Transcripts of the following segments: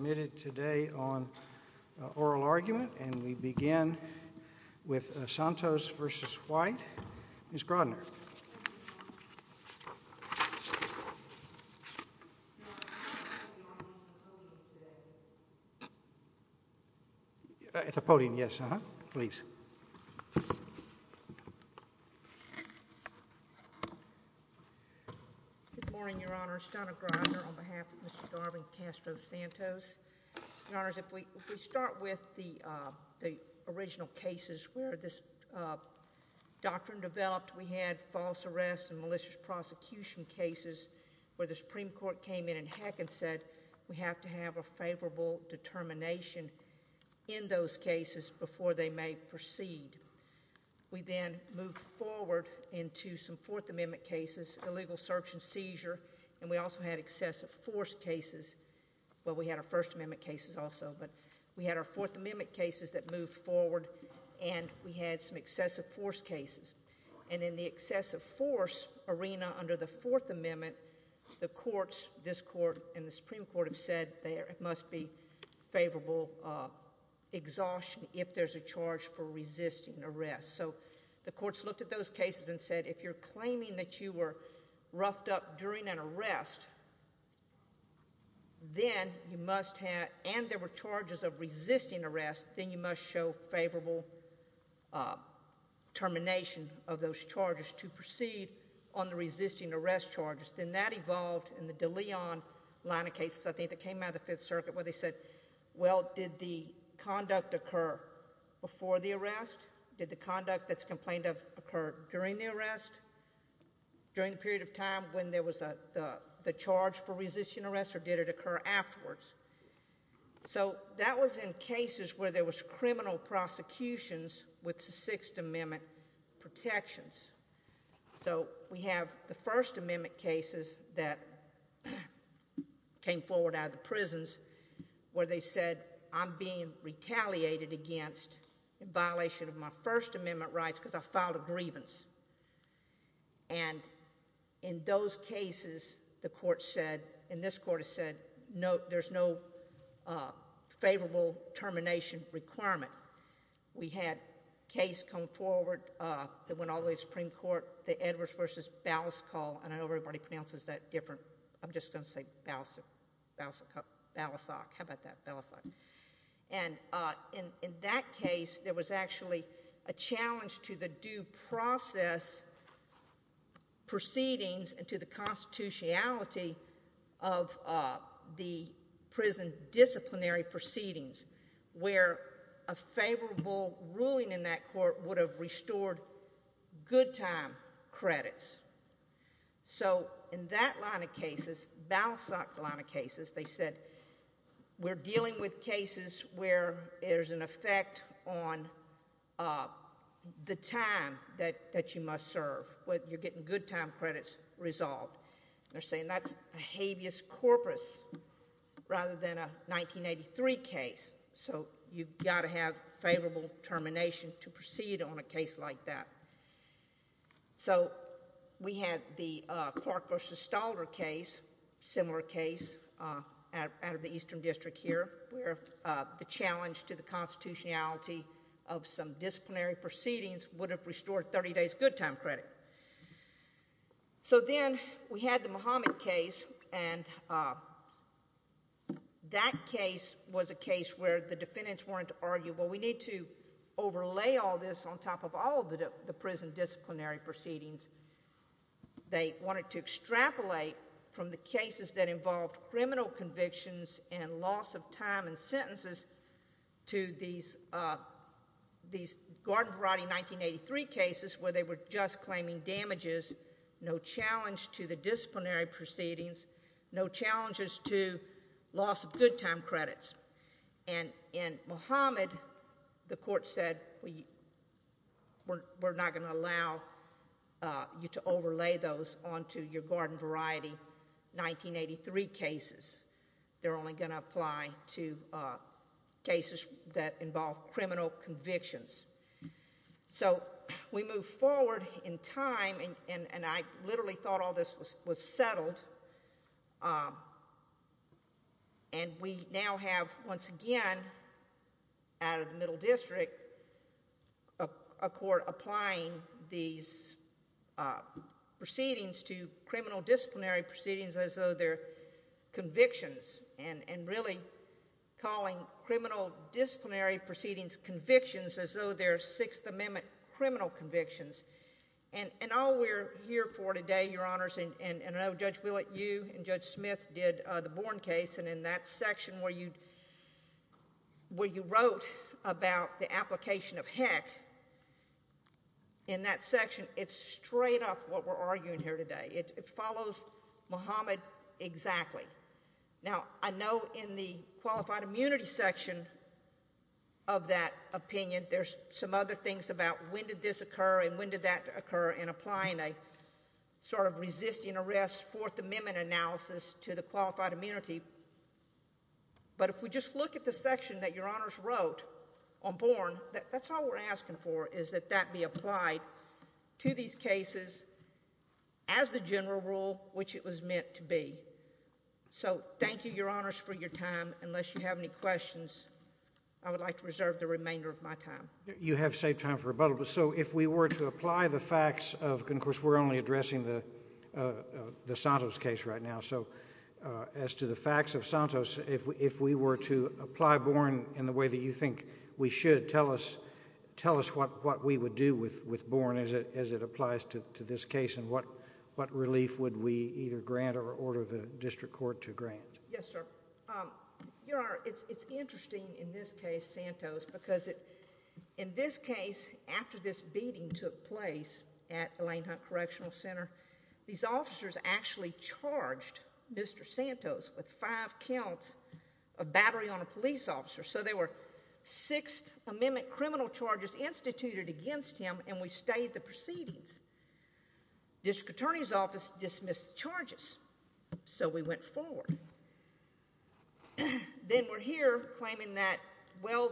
committed today on oral argument, and we begin with Santos v. White. Ms. Grodner. At the podium, yes. Uh-huh. Please. Good morning, Your Honors. Donna Grodner on behalf of Mr. Garvin Castro Santos. Your Honors, if we start with the, uh, the original cases where this, uh, doctrine developed, we had false arrests and malicious prosecution cases where the Supreme Court came in and heck and said, we have to have a favorable determination in those cases before they may proceed. We then moved forward into some Fourth Amendment cases, illegal search and seizure, and we also had excessive force cases. Well, we had our First Amendment cases also, but we had our Fourth Amendment cases that moved forward, and we had some excessive force cases. And in the excessive force arena under the Fourth Amendment, the courts, this Court and the Supreme Court, have said there must be favorable, uh, exhaustion if there's a charge for resisting arrest. So the courts looked at those cases and said, if you're claiming that you were roughed up during an arrest, then you must have, and there were charges of resisting arrest, then you must show favorable, uh, termination of those charges to proceed on the resisting arrest charges. Then that evolved in the De Leon line of cases, I think, that came out of the Fifth Circuit where they said, well, did the conduct occur before the arrest? Did the conduct that's complained of occur during the arrest, during the period of time when there was a, the charge for resisting arrest, or did it occur afterwards? So that was in cases where there was criminal prosecutions with Sixth Amendment protections. So we have the First Amendment cases that came forward out of the prisons where they said, I'm being retaliated against in violation of my First Amendment rights because I filed a grievance. And in those cases, the courts said, and this Court has said, no, there's no, uh, favorable termination requirement. We had a case come forward, uh, that went all the way to the Supreme Court, the Edwards v. Balasagh call, and I know everybody pronounces that different, I'm just going to say Balasagh, Balasagh, how about that, Balasagh. And, uh, in, in that case, there was actually a challenge to the due process proceedings and to the prosecutions where a favorable ruling in that court would have restored good time credits. So in that line of cases, Balasagh line of cases, they said, we're dealing with cases where there's an effect on, uh, the time that, that you must serve, whether you're getting good time credits resolved. They're saying that's a habeas corpus rather than a 1983 case. So you've got to have favorable termination to proceed on a case like that. So we had the, uh, Clark v. Stalder case, similar case, uh, out, out of the Eastern District here where, uh, the challenge to the constitutionality of some disciplinary proceedings would have restored 30 days good time credit. So then we had the Muhammad case and, uh, that case was a case where the defendants wanted to argue, well, we need to overlay all this on top of all the, the prison disciplinary proceedings. They wanted to extrapolate from the cases that involved criminal convictions and loss of time and sentences to these, uh, these Gordon Variety 1983 cases where they were just claiming damages, no challenge to the defense. And in Muhammad, the court said, we, we're not going to allow, uh, you to overlay those onto your Gordon Variety 1983 cases. They're only going to apply to, uh, cases that involve criminal convictions. So we move forward in time and, and, and I literally thought all this was, was settled, um, and we now have, once again, out of the Middle District, a, a court applying these, uh, proceedings to criminal disciplinary proceedings as though they're convictions and, and really calling criminal disciplinary proceedings convictions as though they're Sixth Amendment criminal convictions. And, and all we're here for today, Your Honors, and, and, and I know Judge Willett, you and Judge Smith did, uh, the Bourne case and in that section where you, where you wrote about the application of heck, in that section, it's straight up what we're arguing here today. It, it follows Muhammad exactly. Now, I know in the Qualified Immunity section of that opinion, there's some other things about when did this occur and when did that occur in applying a sort of resisting arrest Fourth Amendment analysis to the Qualified Immunity. But if we just look at the section that Your Honors wrote on Bourne, that, that's all we're asking for is that that be applied to these cases as the general rule which it was meant to be. So, thank you, Your Honors, for your time. Unless you have any questions, I would like to reserve the remainder of my time. You have saved time for rebuttal. So, if we were to apply the facts of, and of course, we're only addressing the, uh, uh, the Santos case right now, so, uh, as to the facts of Santos, if, if we were to apply Bourne in the way that you think we should, tell us, tell us what, what we would do with, with Bourne as it, as it applies to, to this case and what, what relief would we either grant or order the district court to grant? Yes, sir. Um, Your Honor, it's, it's interesting in this case, Santos, because it, in this case, after this beating took place at the Lane Hunt Correctional Center, these officers actually charged Mr. Santos with five counts of battery on a police officer. So, they were sixth amendment criminal charges instituted against him and we stayed the proceedings. District Attorney's Office dismissed the charges. So, we went forward. Then, we're here claiming that, well,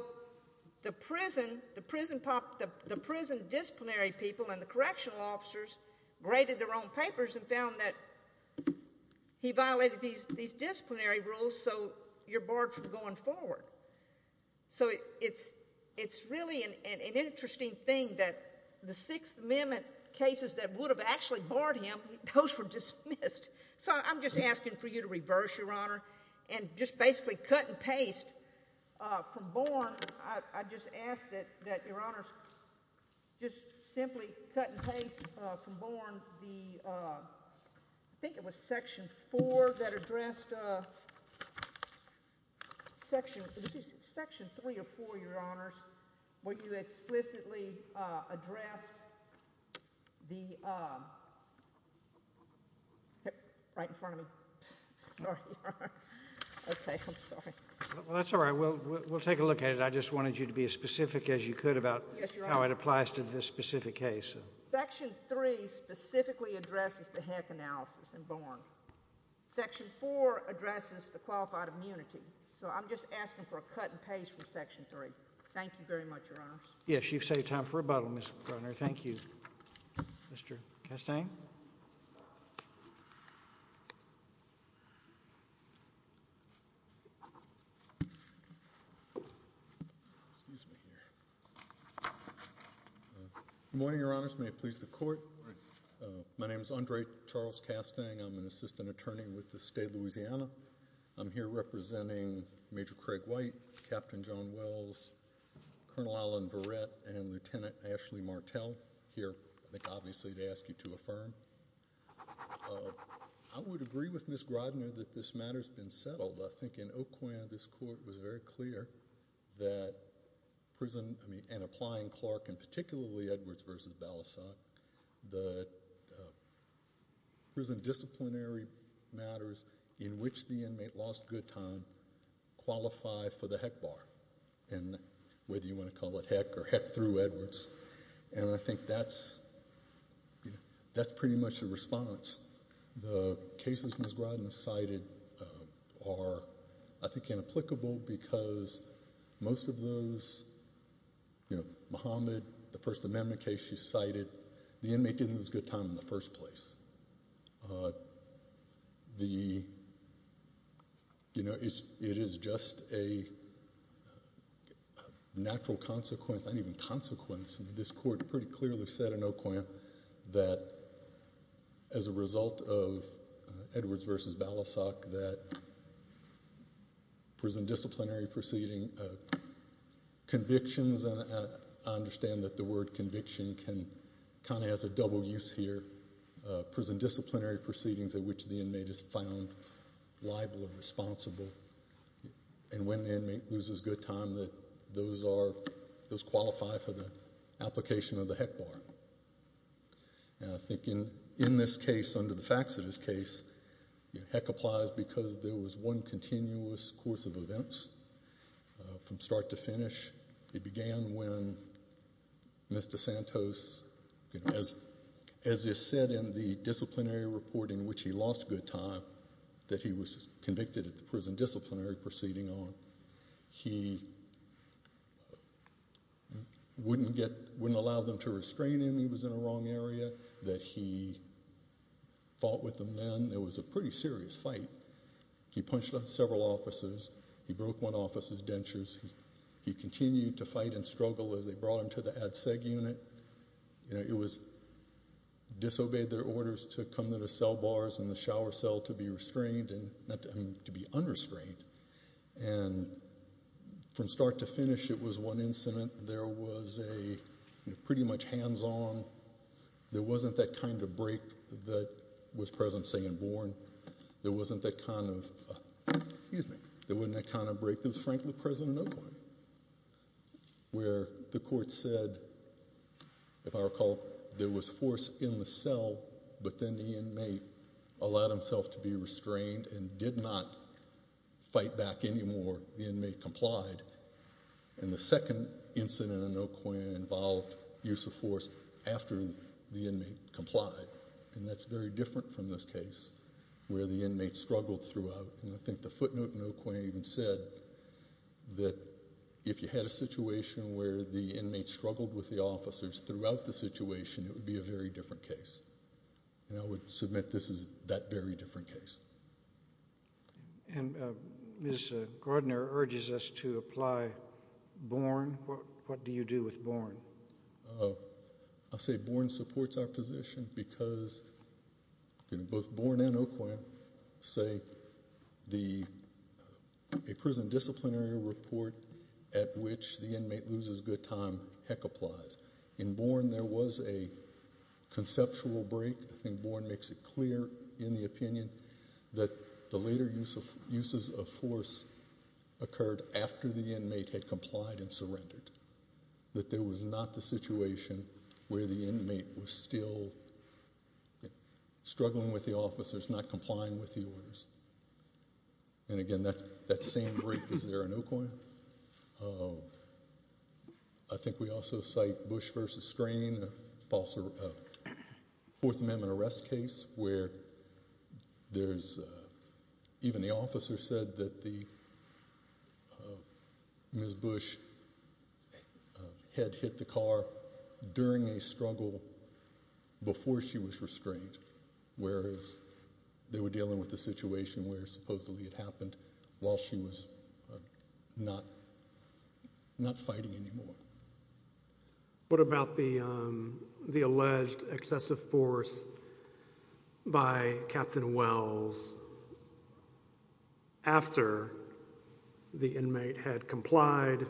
the prison, the prison pop, the, the prison disciplinary people and the correctional officers graded their own papers and found that he violated these, these disciplinary rules. So, you're barred from going forward. So, it's, it's really an, an, an interesting thing that the sixth amendment cases that would have actually barred him, those were dismissed. So, I'm just asking for you to reverse, Your Honor, and just basically cut and paste, uh, from Bourne. I, I just ask that, that Your Honors just simply cut and paste, uh, section, section three or four, Your Honors, where you explicitly, uh, address the, uh, right in front of me. Sorry, Your Honor. Okay, I'm sorry. Well, that's all right. We'll, we'll, we'll take a look at it. I just wanted you to be as specific as you could about how it applies to this specific case. Section three specifically addresses the heck analysis in Bourne. Section four addresses the qualified immunity. So, I'm just asking for a cut and paste from section three. Thank you very much, Your Honors. Yes, you've saved time for rebuttal, Ms. Brunner. Thank you. Mr. Castaigne? Excuse me here. Good morning, Your Honors. May it please the Court. My name is Andre Charles Castaigne. I'm an assistant attorney with the State of Louisiana. I'm here representing Major Craig White, Captain John Wells, Colonel Alan Verrett, and Lieutenant Ashley Martell here, I think, obviously, to ask you to affirm. Uh, I would agree with Ms. Grodner that this matter's been settled. I think in Oquan, this Court was very clear that prison, I mean, and applying Clark and particularly Edwards v. Balasag, that prison disciplinary matters in which the inmate lost good time qualify for the heck bar. And whether you want to call it heck or heck through Edwards. And I think that's pretty much the response. The cases Ms. Grodner cited are, I think, inapplicable because most of those, you know, Muhammad, the First Amendment case she cited, the inmate didn't lose good time in the first place. Uh, the, you know, it is just a natural consequence, not even consequence, this Court pretty clearly said in Oquan that as a result of Edwards v. Balasag that prison disciplinary proceeding convictions, and I understand that the word conviction can, kind of has a double use here, prison disciplinary proceedings in which the inmate is found liable and responsible, and when the inmate loses good time, that those are, those qualify for the application of the heck bar. And I think in this case, under the facts of this case, heck applies because there was one continuous course of events from start to finish. It began when Mr. Santos, as is said in the disciplinary report in which he lost good time, that he was convicted at the prison disciplinary proceeding on. He wouldn't get, wouldn't allow them to restrain him, he was in a wrong area, that he fought with them then. It was a pretty serious fight. He punched on several officers. He broke one officer's dentures. He continued to fight and struggle as they brought him to the Ad Seg unit. You know, it was, disobeyed their orders to come to the cell bars and the shower cell to be restrained and not to be unrestrained. And from start to finish it was one incident. There was a, pretty much hands on, there wasn't that kind of break that was present, say in Bourne. There wasn't that kind of, excuse me, there wasn't that kind of break that was present in Oakland. Where the court said, if I recall, there was force in the cell, but then the inmate allowed himself to be restrained and did not fight back anymore. The inmate complied. And the second incident in Oakland involved use of force after the inmate complied. And that's very different from this case where the inmate struggled throughout. And I think the footnote in Oakland even said that if you had a situation where the inmate struggled with the officers throughout the situation, it would be a very different case. And I would submit this is that very different case. And Ms. Gardner urges us to apply Bourne. What do you do with Bourne? I say Bourne supports our position because, both Bourne and Oakland, say the, a prison loses good time, heck applies. In Bourne, there was a conceptual break. I think Bourne makes it clear in the opinion that the later uses of force occurred after the inmate had complied and surrendered. That there was not the situation where the inmate was still struggling with the officers, not complying with the orders. And again, that same break is there in Oakland. I think we also cite Bush v. Strain, a false, a Fourth Amendment arrest case where there's, even the officer said that the, Ms. Bush had hit the car during a struggle before she was restrained, whereas they were dealing with the situation where supposedly it happened while she was not fighting anymore. What about the alleged excessive force by Captain Wells after the inmate had complied,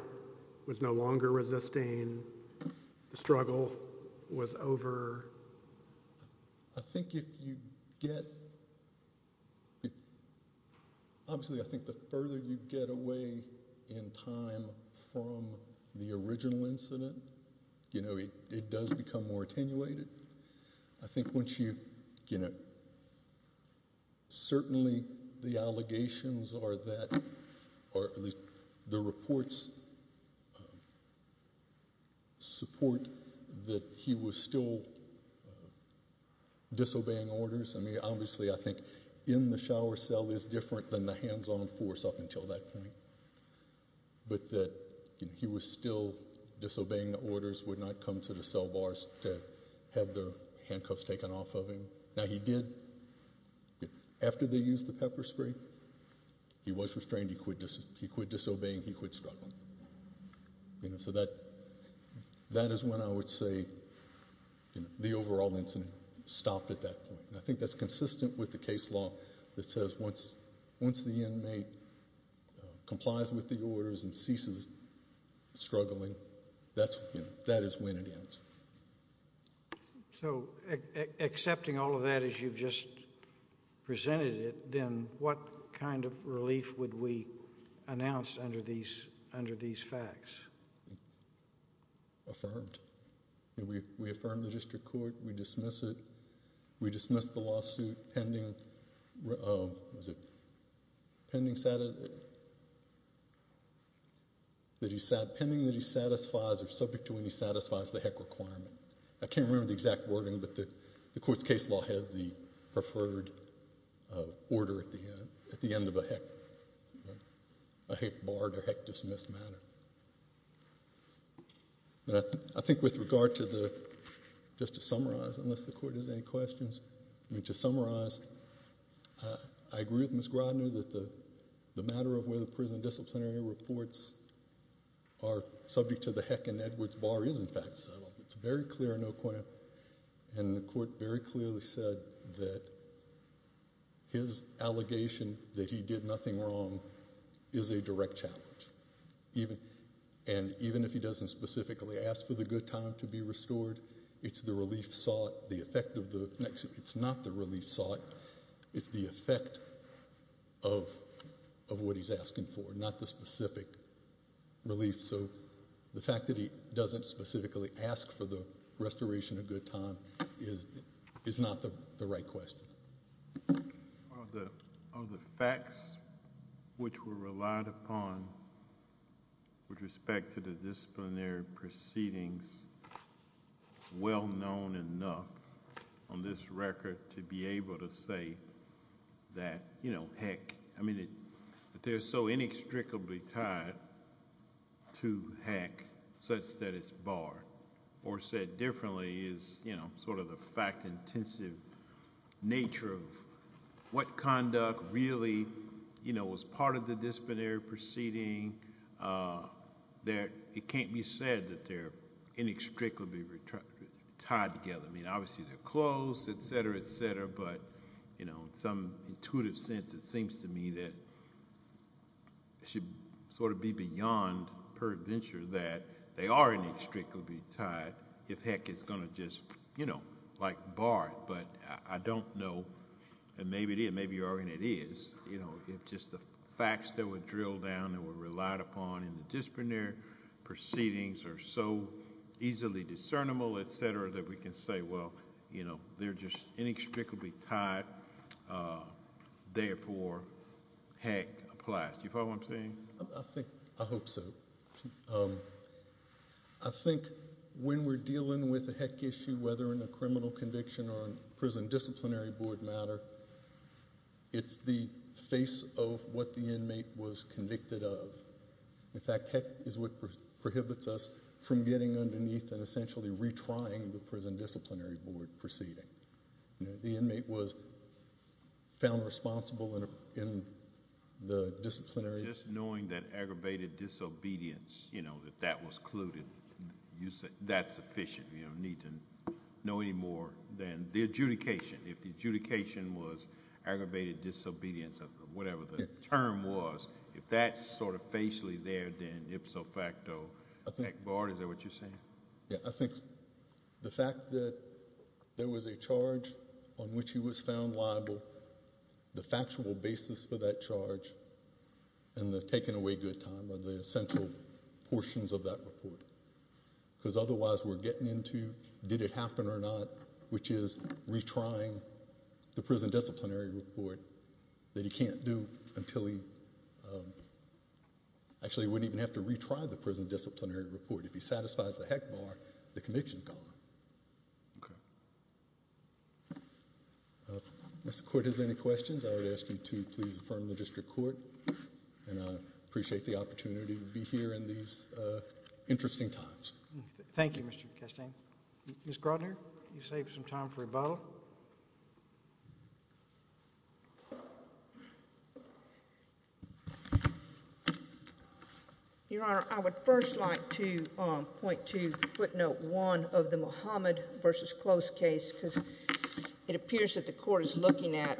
was no longer resisting, the struggle was over? I think if you get, obviously I think the further you get away in time from the original incident, you know, it does become more attenuated. I think once you, you know, certainly the allegations are that, or at least the reports support that he was still, you know, resisting the, disobeying orders. I mean, obviously I think in the shower cell is different than the hands-on force up until that point, but that he was still disobeying the orders, would not come to the cell bars to have their handcuffs taken off of him. Now he did, after they used the pepper spray, he was restrained, he quit disobeying, he quit struggling. You know, so that is when I would say the overall incident stopped at that point. I think that's consistent with the case law that says once the inmate complies with the orders and ceases struggling, that is when it ends. So accepting all of that as you've just presented it, then what kind of relief would we announce under these, under these facts? Affirmed. We affirm the district court, we dismiss it, we dismiss the lawsuit pending that he satisfies, or subject to when he satisfies the HEC requirement. I can't remember the exact wording, but the court's case law has the preferred order at the end of a HEC, a bar to HEC dismiss matter. I think with regard to the, just to summarize, unless the court has any questions, I mean to summarize, I agree with Ms. Grodner that the matter of whether prison disciplinary reports are subject to the HEC and Edwards bar is in fact settled. It's very clear and the court very clearly said that his allegation that he did nothing wrong is a direct challenge. Even, and even if he doesn't specifically ask for the good time to be restored, it's the relief sought, the effect of the, it's not the relief sought, it's the effect of what he's asking for, not the specific relief. So the fact that he doesn't specifically ask for the restoration of good time is not the right question. Are the facts which were relied upon with respect to the disciplinary proceedings well known enough on this record to be able to say that, you know, HEC, I mean, that they're so inextricably tied to HEC such that it's barred, or said differently is, you know, sort of the fact intensive nature of what conduct really, you know, was part of the disciplinary proceeding, that it can't be said that they're inextricably tied together. I mean, obviously they're close, etc., etc., but, you know, in some intuitive sense it seems to me that it should sort of be beyond perventure that they are inextricably tied if HEC is going to just, you know, like bar it, but I don't know, and maybe it is, maybe it is, you know, if just the facts that were drilled down and were relied upon in the disciplinary proceedings are so easily discernible, etc., that we can say, well, you know, they're just inextricably tied, therefore HEC applies. Do you follow what I'm saying? I think, I hope so. I think when we're dealing with a HEC issue, whether in a criminal conviction or a prison disciplinary board matter, it's the face of what the inmate was convicted of. In fact, HEC is what prohibits us from getting underneath and essentially retrying the prison disciplinary board proceeding. The inmate was found responsible in the disciplinary board. Just knowing that aggravated disobedience, you know, that that was colluded, that's sufficient. You don't need to know any more than the adjudication. If the adjudication was aggravated disobedience or whatever the term was, if that's sort of facially there, then ipso facto, HEC barred, is that what you're saying? Yeah, I think the fact that there was a charge on which he was found liable, the factual basis for that charge, and the taking away good time are the essential portions of that report. Because otherwise we're getting into did it happen or not, which is retrying the prison disciplinary report that he can't do until he, actually wouldn't even have to retry the prison disciplinary report. If he satisfies the HEC bar, the conviction is gone. Okay. If the court has any questions, I would ask you to please affirm the district court, and I appreciate the opportunity to be here in these interesting times. Thank you, Mr. Castaigne. Ms. Grodner, you saved some time for rebuttal. Your Honor, I would first like to point to footnote one of the Muhammad v. Close case because it appears that the court is looking at,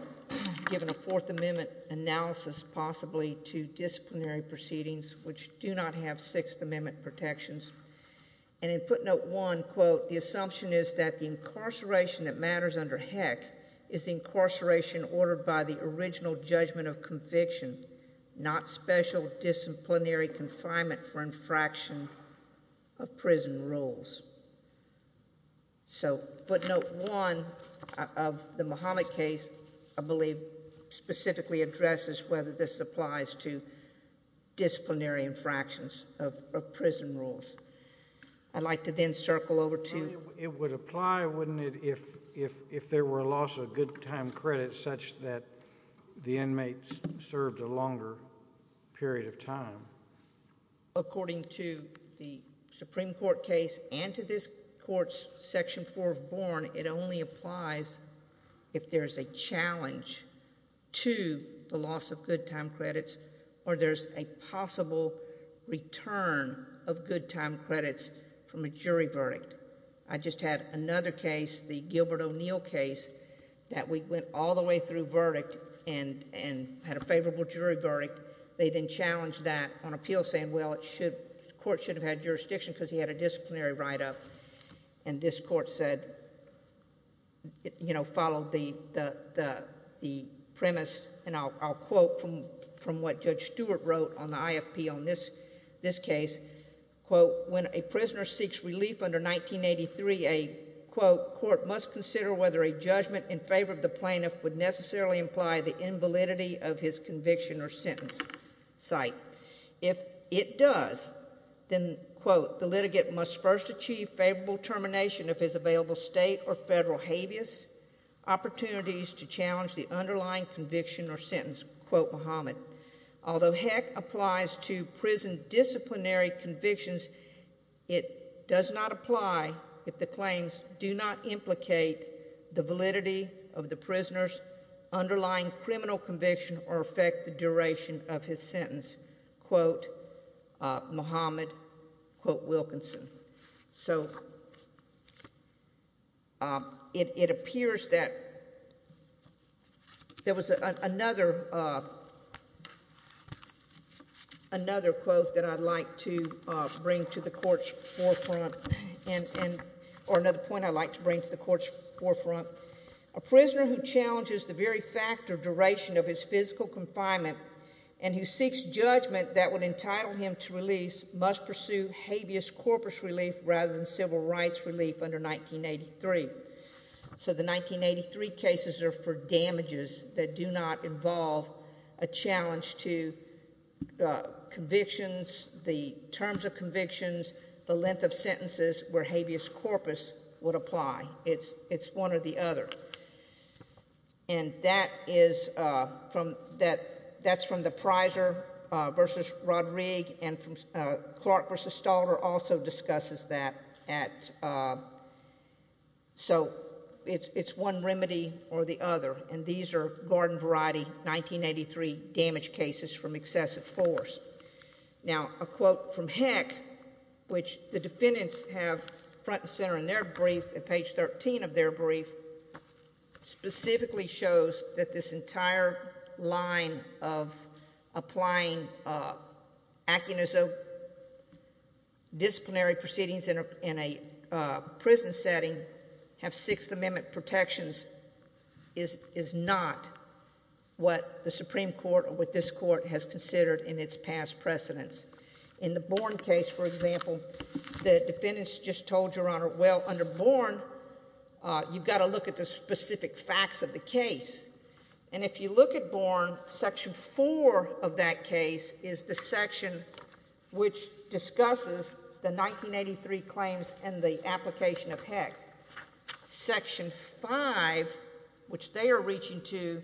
given a Fourth Amendment analysis possibly to disciplinary proceedings which do not have Sixth Amendment protections. And in footnote one, quote, the assumption is that the incarceration that matters under HEC is the incarceration ordered by the original judgment of conviction, not special disciplinary confinement for infraction of prison rules. So footnote one of the Muhammad case, I believe, specifically addresses whether this applies to disciplinary infractions of prison rules. I'd like to then circle over to... It would apply, wouldn't it, if there were a loss of good time credit such that the inmate served a longer period of time? According to the Supreme Court case and to this court's Section 4 of Born, it only applies if there is a challenge to the loss of good time credits or there's a possible return of good time credits from a jury verdict. I just had another case, the Gilbert O'Neill case, that we went all the way through verdict and had a favorable jury verdict. They then challenged that on appeal saying, well, the court should have had jurisdiction because he had a disciplinary write-up. And this court said, you know, followed the premise, and I'll quote from what Judge Stewart wrote on the IFP on this case, quote, when a prisoner seeks relief under 1983, a, quote, court must consider whether a judgment in favor of the plaintiff would necessarily imply the invalidity of his conviction or sentence. If it does, then, quote, the litigant must first achieve favorable termination of his available state or federal habeas opportunities to challenge the underlying conviction or sentence, quote Muhammad. Although heck applies to prison disciplinary convictions, it does not apply if the claims do not implicate the validity of the prisoner's underlying criminal conviction or affect the duration of his sentence, quote Muhammad, quote Wilkinson. So it appears that there was another, another quote that I'd like to bring to the court's forefront, or another point I'd like to bring to the court's forefront. A prisoner who challenges the very fact or duration of his physical confinement and who seeks judgment that would entitle him to release must pursue habeas corpus relief rather than civil rights relief under 1983. So the 1983 cases are for damages that do not involve a challenge to convictions, the terms of convictions, the length of sentences where habeas corpus would apply. It's, it's one or the other. And that is from that, that is from the Prysor versus Roderig and from Clark versus Stalter also discusses that at, so it's, it's one remedy or the other. And these are garden variety 1983 damage cases from excessive force. Now a quote from Heck, which the defendants have front and center in their brief at page 13 of their brief, specifically shows that this entire line of applying, acting as a disciplinary proceedings in a prison setting have Sixth Amendment protections is not what the Supreme Court or what this court has considered in its past precedents. In the Bourne case, for example, the defendants just told Your Honor, well, under Bourne you've got to look at the specific facts of the case. And if you look at Bourne, section four of that case is the section which discusses the 1983 claims and the application of Heck. Section five, which they are reaching to,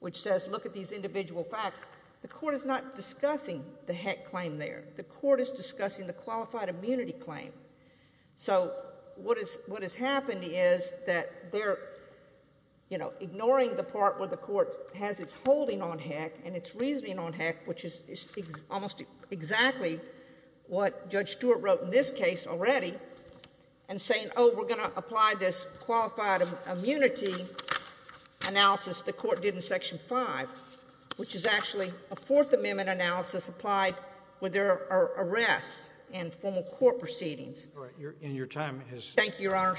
which says, look at these individual facts, the court is not discussing the Heck claim there. The court is discussing the qualified immunity analysis. So they're, you know, ignoring the part where the court has its holding on Heck and its reasoning on Heck, which is almost exactly what Judge Stewart wrote in this case already, and saying, oh, we're going to apply this qualified immunity analysis the court did in section five, which is actually a Fourth Amendment analysis applied where there are arrests and formal court proceedings. Thank you, Your Honor.